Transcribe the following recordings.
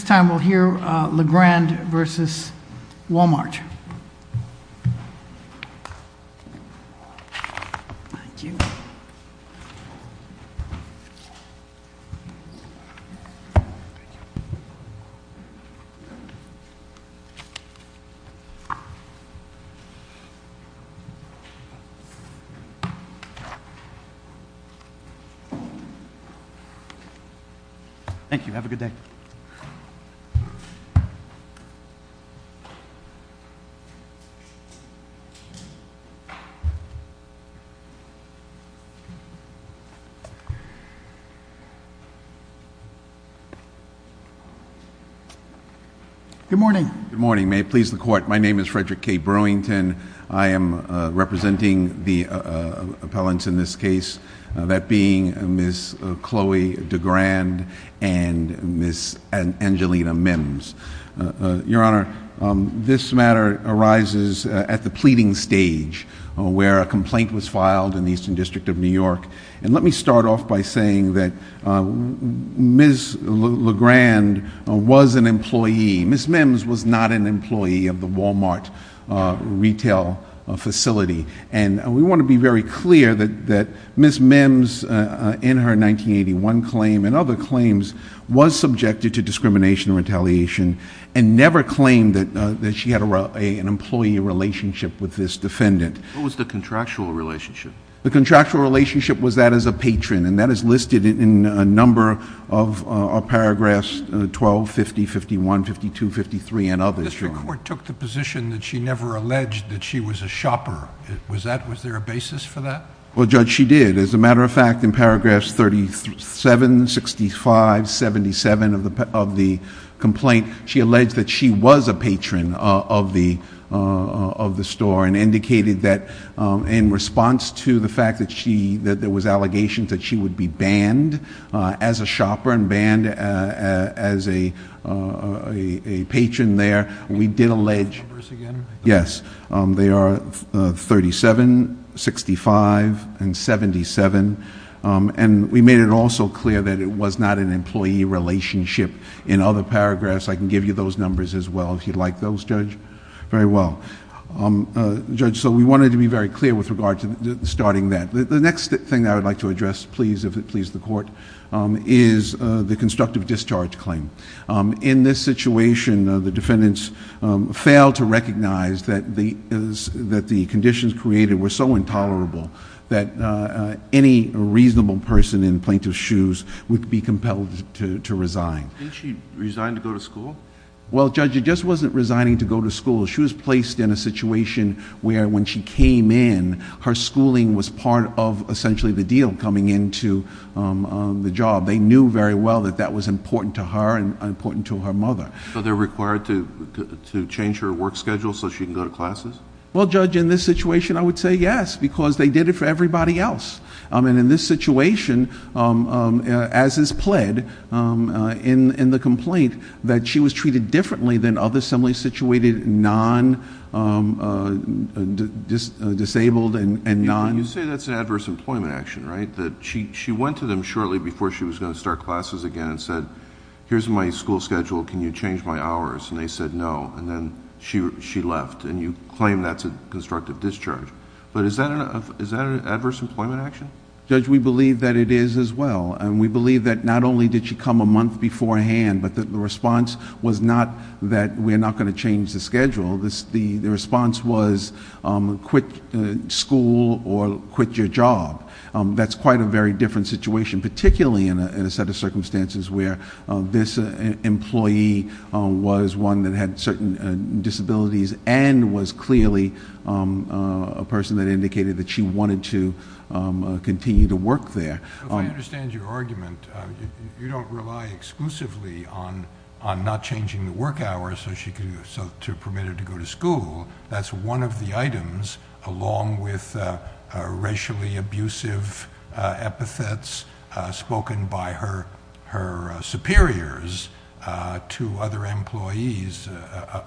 This time we'll hear LeGrand v. Walmart. Thank you. Thank you. Thank you, have a good day. Good morning, may it please the court. My name is Frederick K. Brewington, I am representing the appellants in this case. That being Ms. Chloe DeGrand and Ms. Angelina Mims. Your Honor, this matter arises at the pleading stage where a complaint was filed in the Eastern District of New York. And let me start off by saying that Ms. LeGrand was an employee, Ms. Mims was not an employee of the Walmart retail facility. And we want to be very clear that Ms. Mims in her 1981 claim and other claims was subjected to discrimination and retaliation and never claimed that she had an employee relationship with this defendant. What was the contractual relationship? The contractual relationship was that as a patron and that is listed in a number of paragraphs 12, 50, 51, 52, 53 and others. The district court took the position that she never alleged that she was a shopper. Was that, was there a basis for that? Well, Judge, she did. As a matter of fact, in paragraphs 37, 65, 77 of the complaint, she alleged that she was a patron of the store and indicated that in response to the fact that she, that there was allegations that she would be banned as a shopper and banned as a patron there, we did allege. Can you read the numbers again? Yes. They are 37, 65 and 77 and we made it also clear that it was not an employee relationship in other paragraphs. I can give you those numbers as well if you'd like those, Judge. Very well. Judge, so we wanted to be very clear with regard to starting that. The next thing I would like to address, please, if it pleases the court, is the constructive discharge claim. In this situation, the defendants failed to recognize that the conditions created were so intolerable that any reasonable person in plaintiff's shoes would be compelled to resign. Didn't she resign to go to school? Well, Judge, it just wasn't resigning to go to school. She was placed in a situation where when she came in, her schooling was part of essentially the deal coming into the job. They knew very well that that was important to her and important to her mother. So they're required to change her work schedule so she can go to classes? Well, Judge, in this situation, I would say yes because they did it for everybody else. In this situation, as is pled in the complaint, that she was treated differently than other non-disabled and non... You say that's an adverse employment action, right? She went to them shortly before she was going to start classes again and said, here's my school schedule. Can you change my hours? And they said no, and then she left, and you claim that's a constructive discharge, but is that an adverse employment action? Judge, we believe that it is as well, and we believe that not only did she come a month beforehand, but the response was not that we're not going to change the schedule. The response was quit school or quit your job. That's quite a very different situation, particularly in a set of circumstances where this employee was one that had certain disabilities and was clearly a person that indicated that she wanted to continue to work there. If I understand your argument, you don't rely exclusively on not changing the work hours to permit her to go to school. That's one of the items along with racially abusive epithets spoken by her superiors to other employees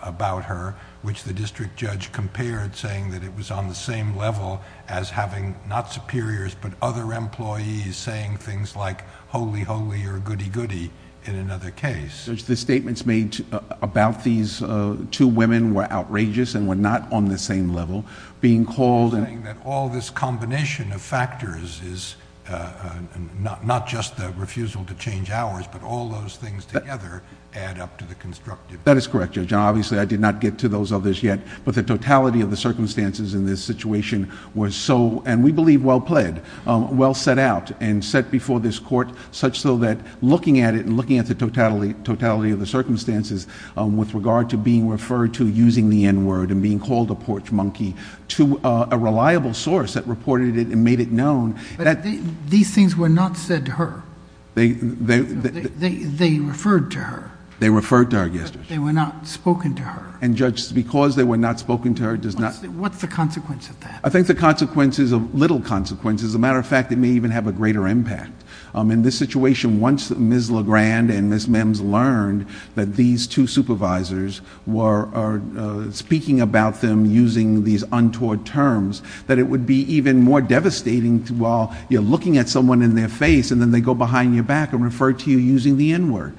about her, which the district judge compared saying that it was on the same level as having, not superiors, but other employees saying things like holy holy or goody goody in another case. Judge, the statements made about these two women were outrageous and were not on the Being called... You're saying that all this combination of factors is not just the refusal to change hours, but all those things together add up to the constructive... That is correct, Judge. Obviously, I did not get to those others yet, but the totality of the circumstances in this situation was so, and we believe well played, well set out and set before this court such so that looking at it and looking at the totality of the circumstances with regard to being referred to using the N-word and being called a porch monkey to a reliable source that reported it and made it known... But these things were not said to her. They referred to her. They referred to her, yes, Judge. But they were not spoken to her. And Judge, because they were not spoken to her does not... What's the consequence of that? I think the consequence is a little consequence. As a matter of fact, it may even have a greater impact. In this situation, once Ms. Legrand and Ms. Mims learned that these two supervisors were speaking about them using these untoward terms, that it would be even more devastating while you're looking at someone in their face and then they go behind your back and refer to you using the N-word.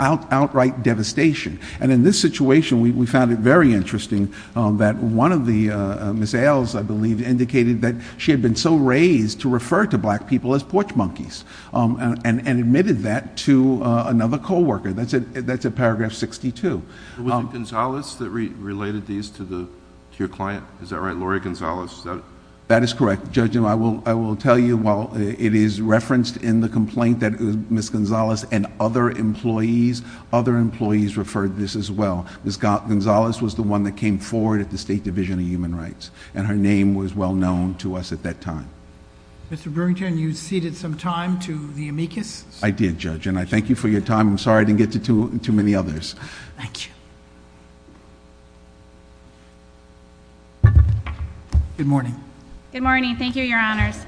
Outright devastation. And in this situation, we found it very interesting that one of the... Ms. Ailes, I believe, indicated that she had been so raised to refer to black people as porch monkeys and admitted that to another coworker. That's at paragraph 62. Was it Gonzalez that related these to your client? Is that right? Laurie Gonzalez? That is correct, Judge. And I will tell you while it is referenced in the complaint that Ms. Gonzalez and other employees, other employees referred this as well. Ms. Gonzalez was the one that came forward at the State Division of Human Rights and her name was well known to us at that time. Mr. Burrington, you ceded some time to the amicus? I did, Judge. And I thank you for your time. I'm sorry I didn't get to too many others. Thank you. Good morning. Good morning. Thank you, Your Honors.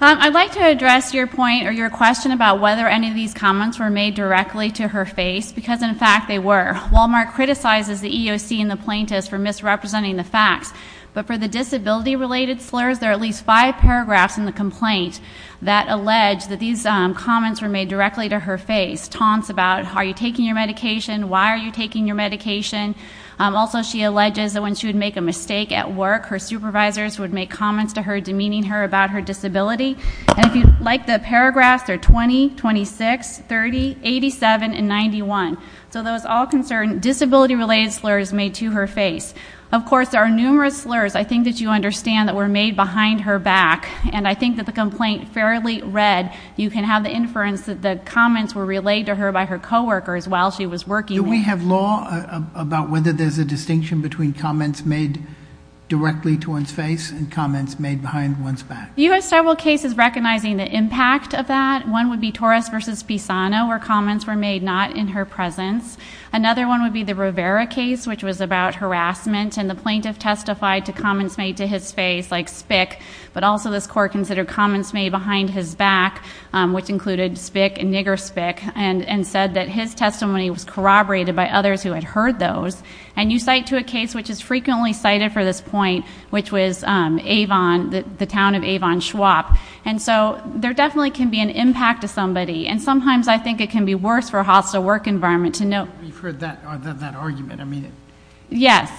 I'd like to address your point or your question about whether any of these comments were made directly to her face because, in fact, they were. Wal-Mart criticizes the EOC and the plaintiffs for misrepresenting the facts, but for the disability-related slurs, there are at least five paragraphs in the complaint that allege that these comments were made directly to her face, taunts about, are you taking your medication? Why are you taking your medication? Also she alleges that when she would make a mistake at work, her supervisors would make comments to her demeaning her about her disability. And if you'd like the paragraphs, they're 20, 26, 30, 87, and 91. So those all concern disability-related slurs made to her face. Of course, there are numerous slurs I think that you understand that were made behind her back, and I think that the complaint fairly read. You can have the inference that the comments were relayed to her by her coworkers while she was working. Do we have law about whether there's a distinction between comments made directly to one's face and comments made behind one's back? You have several cases recognizing the impact of that. One would be Torres v. Pisano, where comments were made not in her presence. Another one would be the Rivera case, which was about harassment, and the plaintiff testified to comments made to his face, like spick, but also this court considered comments made behind his back, which included spick and nigger spick, and said that his testimony was corroborated by others who had heard those. And you cite to a case which is frequently cited for this point, which was Avon, the Avon Schwab. And so, there definitely can be an impact to somebody, and sometimes I think it can be worse for a hostile work environment to know... You've heard that argument. I mean... Yes.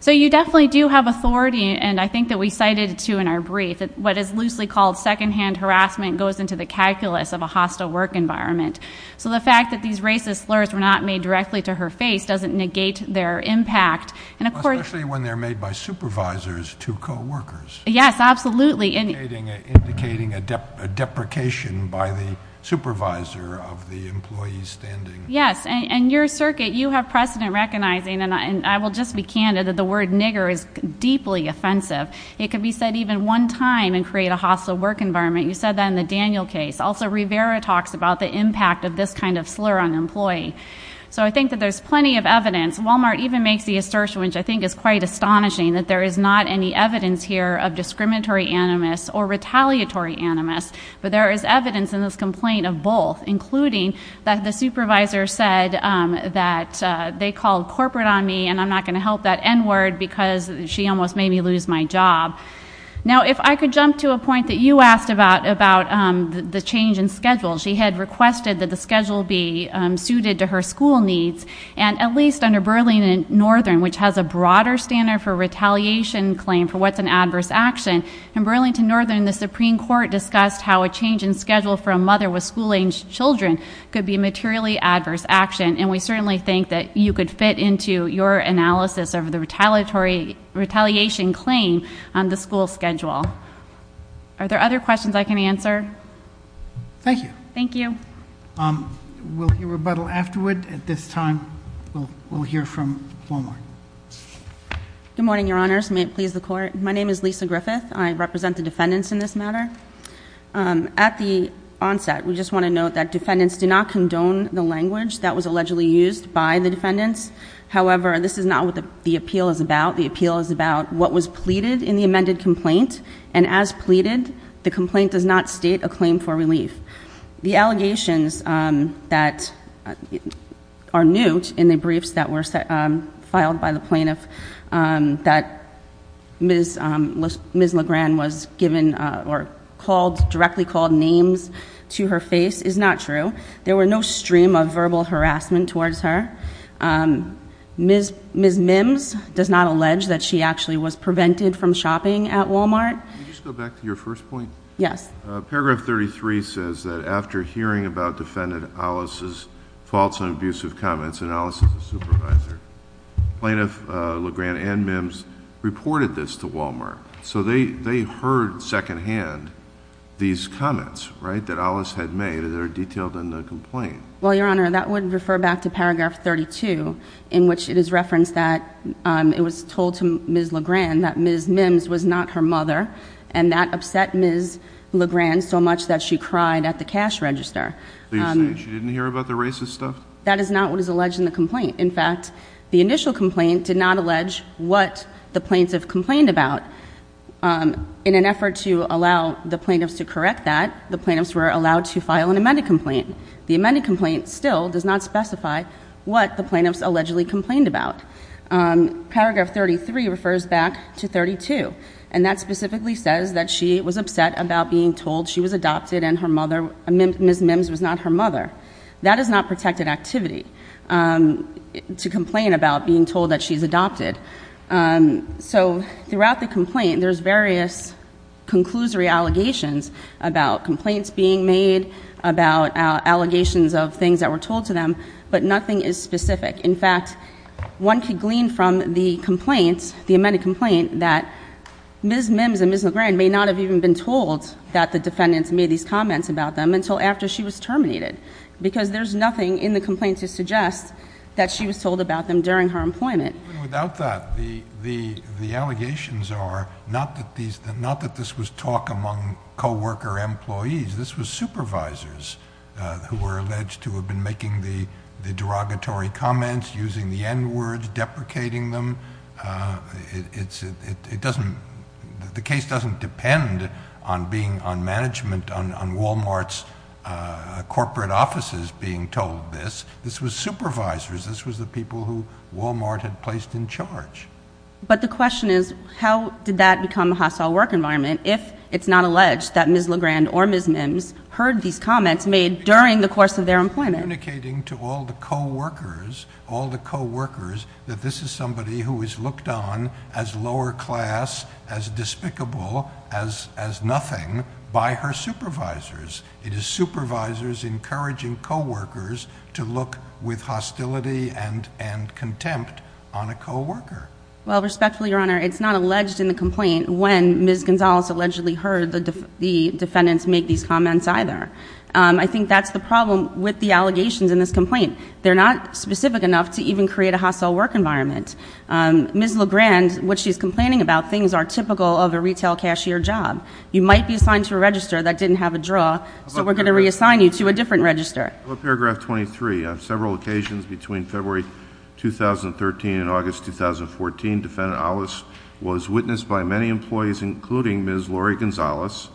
So, you definitely do have authority, and I think that we cited it, too, in our brief. What is loosely called secondhand harassment goes into the calculus of a hostile work environment. So, the fact that these racist slurs were not made directly to her face doesn't negate their impact. And of course... Especially when they're made by supervisors to coworkers. Yes, absolutely. Indicating a deprecation by the supervisor of the employee standing. Yes. And your circuit, you have precedent recognizing, and I will just be candid, that the word nigger is deeply offensive. It could be said even one time, and create a hostile work environment. You said that in the Daniel case. Also, Rivera talks about the impact of this kind of slur on an employee. So, I think that there's plenty of evidence. Walmart even makes the assertion, which I think is quite astonishing, that there is not any evidence here of discriminatory animus or retaliatory animus, but there is evidence in this complaint of both, including that the supervisor said that they called corporate on me, and I'm not going to help that n-word, because she almost made me lose my job. Now, if I could jump to a point that you asked about, about the change in schedule. She had requested that the schedule be suited to her school needs, and at least under Burlington Northern, which has a broader standard for retaliation claim, for what's an adverse action. In Burlington Northern, the Supreme Court discussed how a change in schedule for a mother with school-age children could be a materially adverse action, and we certainly think that you could fit into your analysis of the retaliatory, retaliation claim on the school schedule. Are there other questions I can answer? Thank you. Thank you. We'll hear rebuttal afterward. At this time, we'll hear from Walmart. Good morning, Your Honors. May it please the Court. My name is Lisa Griffith. I represent the defendants in this matter. At the onset, we just want to note that defendants do not condone the language that was allegedly used by the defendants. However, this is not what the appeal is about. The appeal is about what was pleaded in the amended complaint, and as pleaded, the complaint does not state a claim for relief. The allegations that are new in the briefs that were filed by the plaintiff that Ms. LeGrand was given or called, directly called names to her face is not true. There were no stream of verbal harassment towards her. Ms. Mims does not allege that she actually was prevented from shopping at Walmart. Could you just go back to your first point? Yes. Paragraph 33 says that after hearing about defendant Alice's faults and abusive comments, and Alice is a supervisor, plaintiff LeGrand and Mims reported this to Walmart. So they heard secondhand these comments, right, that Alice had made that are detailed in the complaint. Well, Your Honor, that would refer back to paragraph 32, in which it is referenced that it was told to Ms. LeGrand that Ms. Mims was not her mother, and that upset Ms. LeGrand so much that she cried at the cash register. Are you saying she didn't hear about the racist stuff? That is not what is alleged in the complaint. In fact, the initial complaint did not allege what the plaintiff complained about. In an effort to allow the plaintiffs to correct that, the plaintiffs were allowed to file an amended complaint. The amended complaint still does not specify what the plaintiffs allegedly complained about. Paragraph 33 refers back to 32, and that specifically says that she was upset about being told she was adopted and Ms. Mims was not her mother. That is not protected activity, to complain about being told that she's adopted. So throughout the complaint, there's various conclusory allegations about complaints being made, about allegations of things that were told to them, but nothing is specific. In fact, one could glean from the complaint, the amended complaint, that Ms. Mims and Ms. LeGrand may not have even been told that the defendants made these comments about them until after she was terminated, because there's nothing in the complaint to suggest that she was told about them during her employment. Without that, the allegations are not that this was talk among co-worker employees. This was supervisors who were alleged to have been making the derogatory comments, using the N-words, deprecating them. The case doesn't depend on management, on Walmart's corporate offices being told this. This was supervisors. This was the people who Walmart had placed in charge. But the question is, how did that become a hostile work environment if it's not alleged that Ms. LeGrand or Ms. Mims heard these comments made during the course of their employment? She's communicating to all the co-workers, all the co-workers, that this is somebody who is looked on as lower class, as despicable, as nothing by her supervisors. It is supervisors encouraging co-workers to look with hostility and contempt on a co-worker. Well, respectfully, Your Honor, it's not alleged in the complaint when Ms. Gonzalez allegedly heard the defendants make these comments either. I think that's the problem with the allegations in this complaint. They're not specific enough to even create a hostile work environment. Ms. LeGrand, what she's complaining about, things are typical of a retail cashier job. You might be assigned to a register that didn't have a draw, so we're going to reassign you to a different register. Paragraph 23, on several occasions between February 2013 and August 2014, Defendant Aulis was witnessed by many employees, including Ms. Lori Gonzalez,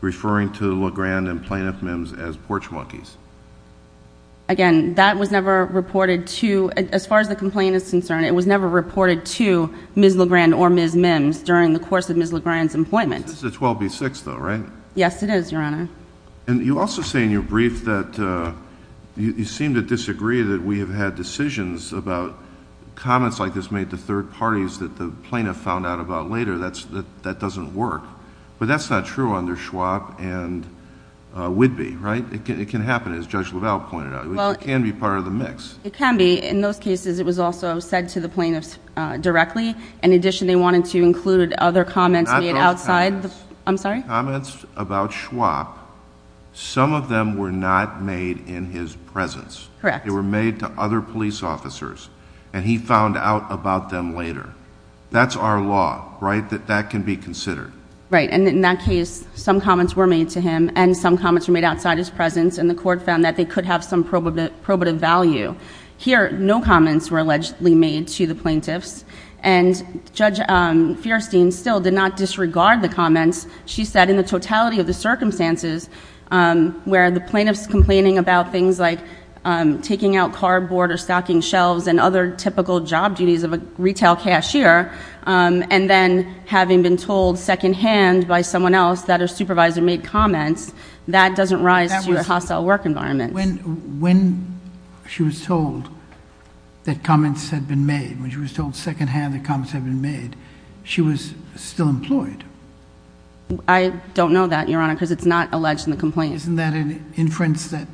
referring to LeGrand and plaintiff Mims as porch monkeys. Again, that was never reported to, as far as the complaint is concerned, it was never reported to Ms. LeGrand or Ms. Mims during the course of Ms. LeGrand's employment. This is a 12B6, though, right? Yes, it is, Your Honor. And you also say in your brief that you seem to disagree that we have had decisions about comments like this made to third parties that the plaintiff found out about later, that doesn't work. But that's not true under Schwab and Whitby, right? It can happen, as Judge LaValle pointed out. It can be part of the mix. It can be. In those cases, it was also said to the plaintiffs directly. In addition, they wanted to include other comments made outside the... Not those comments. I'm sorry? Comments about Schwab, some of them were not made in his presence. Correct. They were made to other police officers, and he found out about them later. That's our law, right, that that can be considered. Right, and in that case, some comments were made to him, and some comments were made outside his presence, and the court found that they could have some probative value. Here, no comments were allegedly made to the plaintiffs, and Judge Fierstein still did not disregard the comments. She said, in the totality of the circumstances, where the plaintiffs complaining about things like taking out cardboard or stocking shelves and other typical job duties of a retail cashier, and then having been told secondhand by someone else that a supervisor made comments, that doesn't rise to a hostile work environment. When she was told that comments had been made, when she was told secondhand that comments had been made, she was still employed. I don't know that, Your Honor, because it's not alleged in the complaint. Isn't that an inference that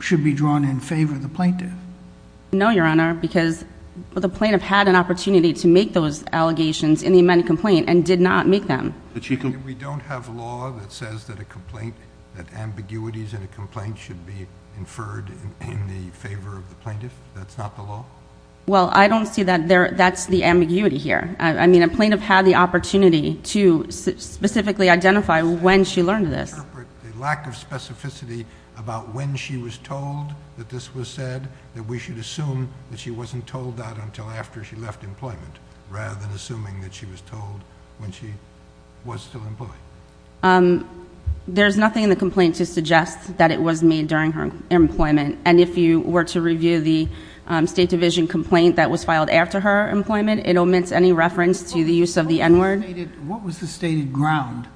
should be drawn in favor of the plaintiff? No, Your Honor, because the plaintiff had an opportunity to make those allegations in the amended complaint and did not make them. We don't have law that says that a complaint, that ambiguities in a complaint should be inferred in favor of the plaintiff? That's not the law? Well, I don't see that. That's the ambiguity here. I mean, a plaintiff had the opportunity to specifically identify when she learned this. Can you interpret the lack of specificity about when she was told that this was said, that we should assume that she wasn't told that until after she left employment, rather than assuming that she was told when she was still employed? There's nothing in the complaint to suggest that it was made during her employment, and if you were to review the State Division complaint that was filed after her employment, it omits any reference to the use of the N-word. What was the stated ground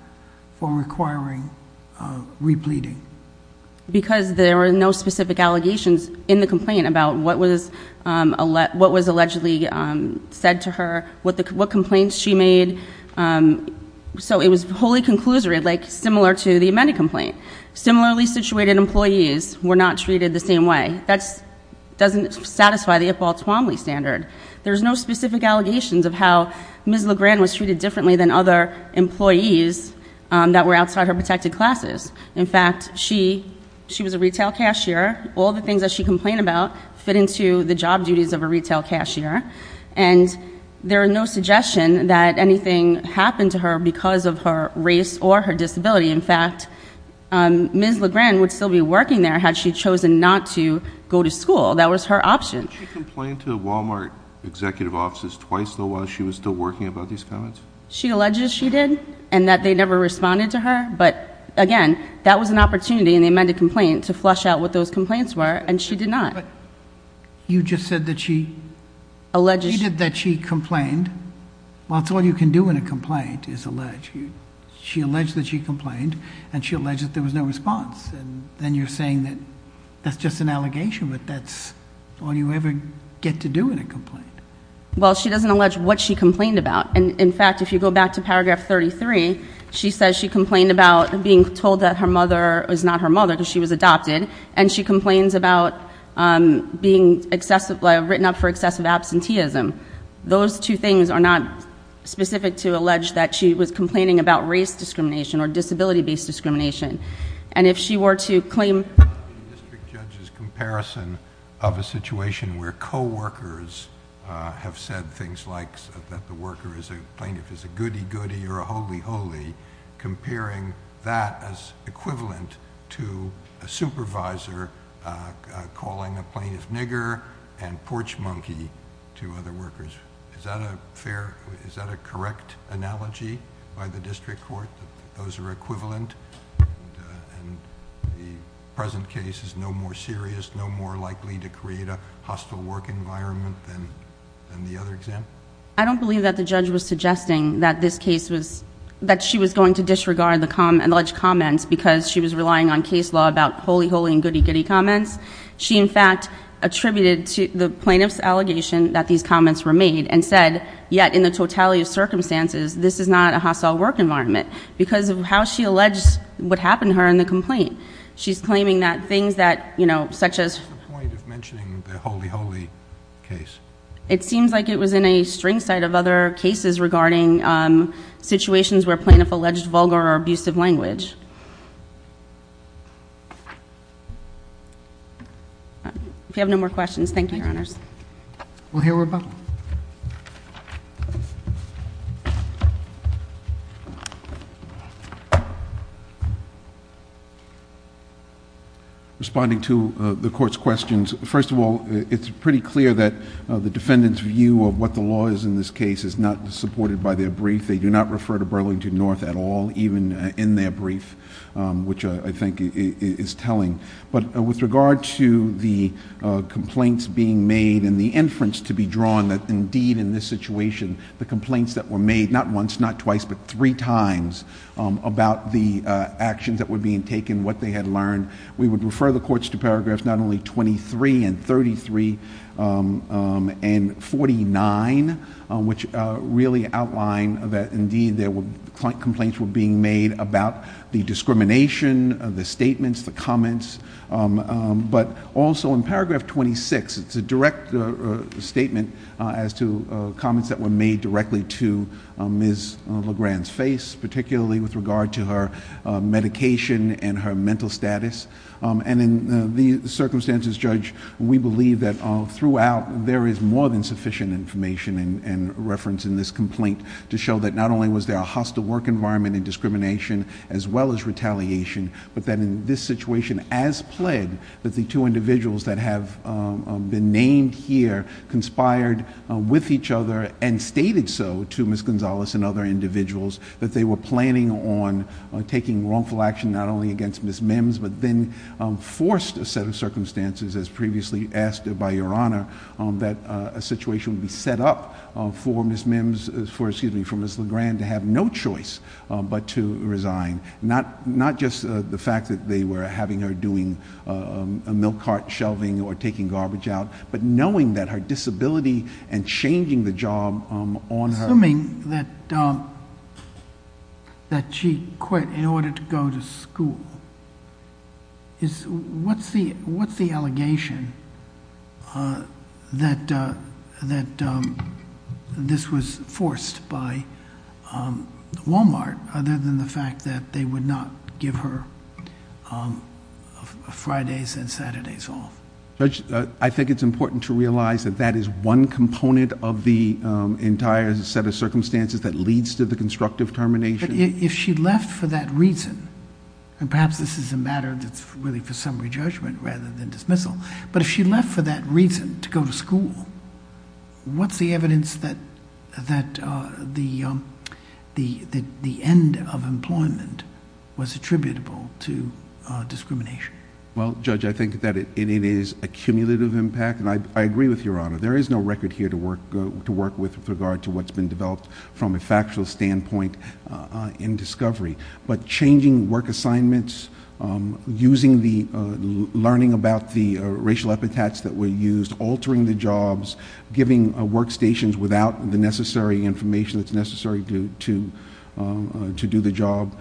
for requiring repleting? Because there were no specific allegations in the complaint about what was allegedly said to her, what complaints she made. So it was wholly conclusory, like similar to the amended complaint. Similarly situated employees were not treated the same way. That doesn't satisfy the Ipaw Twomley standard. There's no specific allegations of how Ms. LeGrand was treated differently than other employees that were outside her protected classes. In fact, she was a retail cashier. All the things that she complained about fit into the job duties of a retail cashier, and there are no suggestions that anything happened to her because of her race or her disability. In fact, Ms. LeGrand would still be working there had she chosen not to go to school. That was her option. Didn't she complain to Walmart executive offices twice though while she was still working about these comments? She alleges she did and that they never responded to her, but again, that was an opportunity in the amended complaint to flush out what those complaints were, and she did not. But you just said that she... Alleged.... that she complained. Well, that's all you can do in a complaint is allege. She alleged that she complained, and she alleged that there was no response. Then you're saying that that's just an allegation, but that's all you ever get to do in a complaint. Well, she doesn't allege what she complained about. In fact, if you go back to paragraph 33, she says she complained about being told that her mother was not her mother because she was adopted, and she complains about being written up for excessive absenteeism. Those two things are not specific to allege that she was complaining about race discrimination or disability-based discrimination. And if she were to claim...... district judge's comparison of a situation where coworkers have said things like that the worker is a plaintiff is a goody-goody or a holy-holy, comparing that as equivalent to a supervisor calling a plaintiff nigger and porch monkey to other workers. Is that a fair... is that a correct analogy by the district court, that those are equivalent? And the present case is no more serious, no more likely to create a hostile work environment than the other example? I don't believe that the judge was suggesting that this case was... that she was going to disregard the alleged comments because she was relying on case law about holy-holy and goody-goody comments. She, in fact, attributed the plaintiff's allegation that these comments were made and said, yet in the totality of circumstances, this is not a hostile work environment because of how she alleged what happened to her in the complaint. She's claiming that things that, you know, such as... What's the point of mentioning the holy-holy case? It seems like it was in a string set of other cases regarding situations where plaintiff alleged vulgar or abusive language. If you have no more questions, thank you, Your Honors. Thank you. We'll hear from... The defendant's view of what the law is in this case is not supported by their brief. They do not refer to Burlington North at all, even in their brief, which I think is telling. But with regard to the complaints being made and the inference to be drawn that, indeed, in this situation, the complaints that were made, not once, not twice, but three times, about the actions that were being taken, what they had learned, we would refer the courts to paragraphs not only 23 and 33 and 49, which really outline that, indeed, complaints were being made about the discrimination, the statements, the comments, but also in paragraph 26, it's a direct statement as to comments that were made directly to Ms. LeGrand's face, particularly with regard to her medication and her mental status. In the circumstances, Judge, we believe that throughout, there is more than sufficient information and reference in this complaint to show that not only was there a hostile work environment and discrimination, as well as retaliation, but that in this situation, as pled, that the two individuals that have been named here conspired with each other and stated so to Ms. Gonzalez and other individuals that they were planning on taking wrongful action, not only against Ms. Mims, but then forced a set of circumstances, as previously asked by Your Honor, that a situation would be set up for Ms. LeGrand to have no choice but to resign, not just the fact that they were having her doing a milk cart shelving or taking garbage out, but knowing that her disability and changing the job on her. Assuming that she quit in order to go to school, what's the allegation that this was forced by Walmart, other than the fact that they would not give her Fridays and Saturdays off? Judge, I think it's important to realize that that is one component of the entire set of circumstances that leads to the constructive termination. If she left for that reason, and perhaps this is a matter that's really for summary judgment rather than dismissal, but if she left for that reason, to go to school, what's the evidence that the end of employment was attributable to discrimination? Well, Judge, I think that it is a cumulative impact, and I agree with Your Honor. There is no record here to work with with regard to what's been developed from a factual standpoint in discovery, but changing work assignments, learning about the racial epithets that were used, altering the jobs, giving workstations without the necessary information that's necessary to do the job,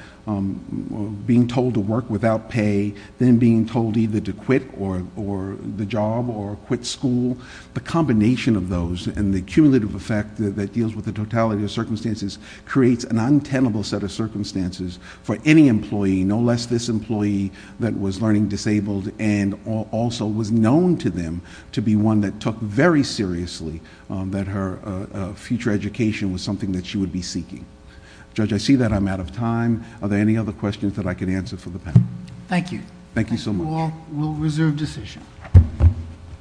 being told to work without pay, then being told either to quit the job or quit school, the combination of those and the cumulative effect that deals with the totality of circumstances creates an untenable set of circumstances for any employee, no less this employee that was learning disabled and also was known to them to be one that took very seriously that her future education was something that she would be seeking. Judge, I see that I'm out of time. Are there any other questions that I can answer for the panel? Thank you. Thank you so much. The court will reserve decision.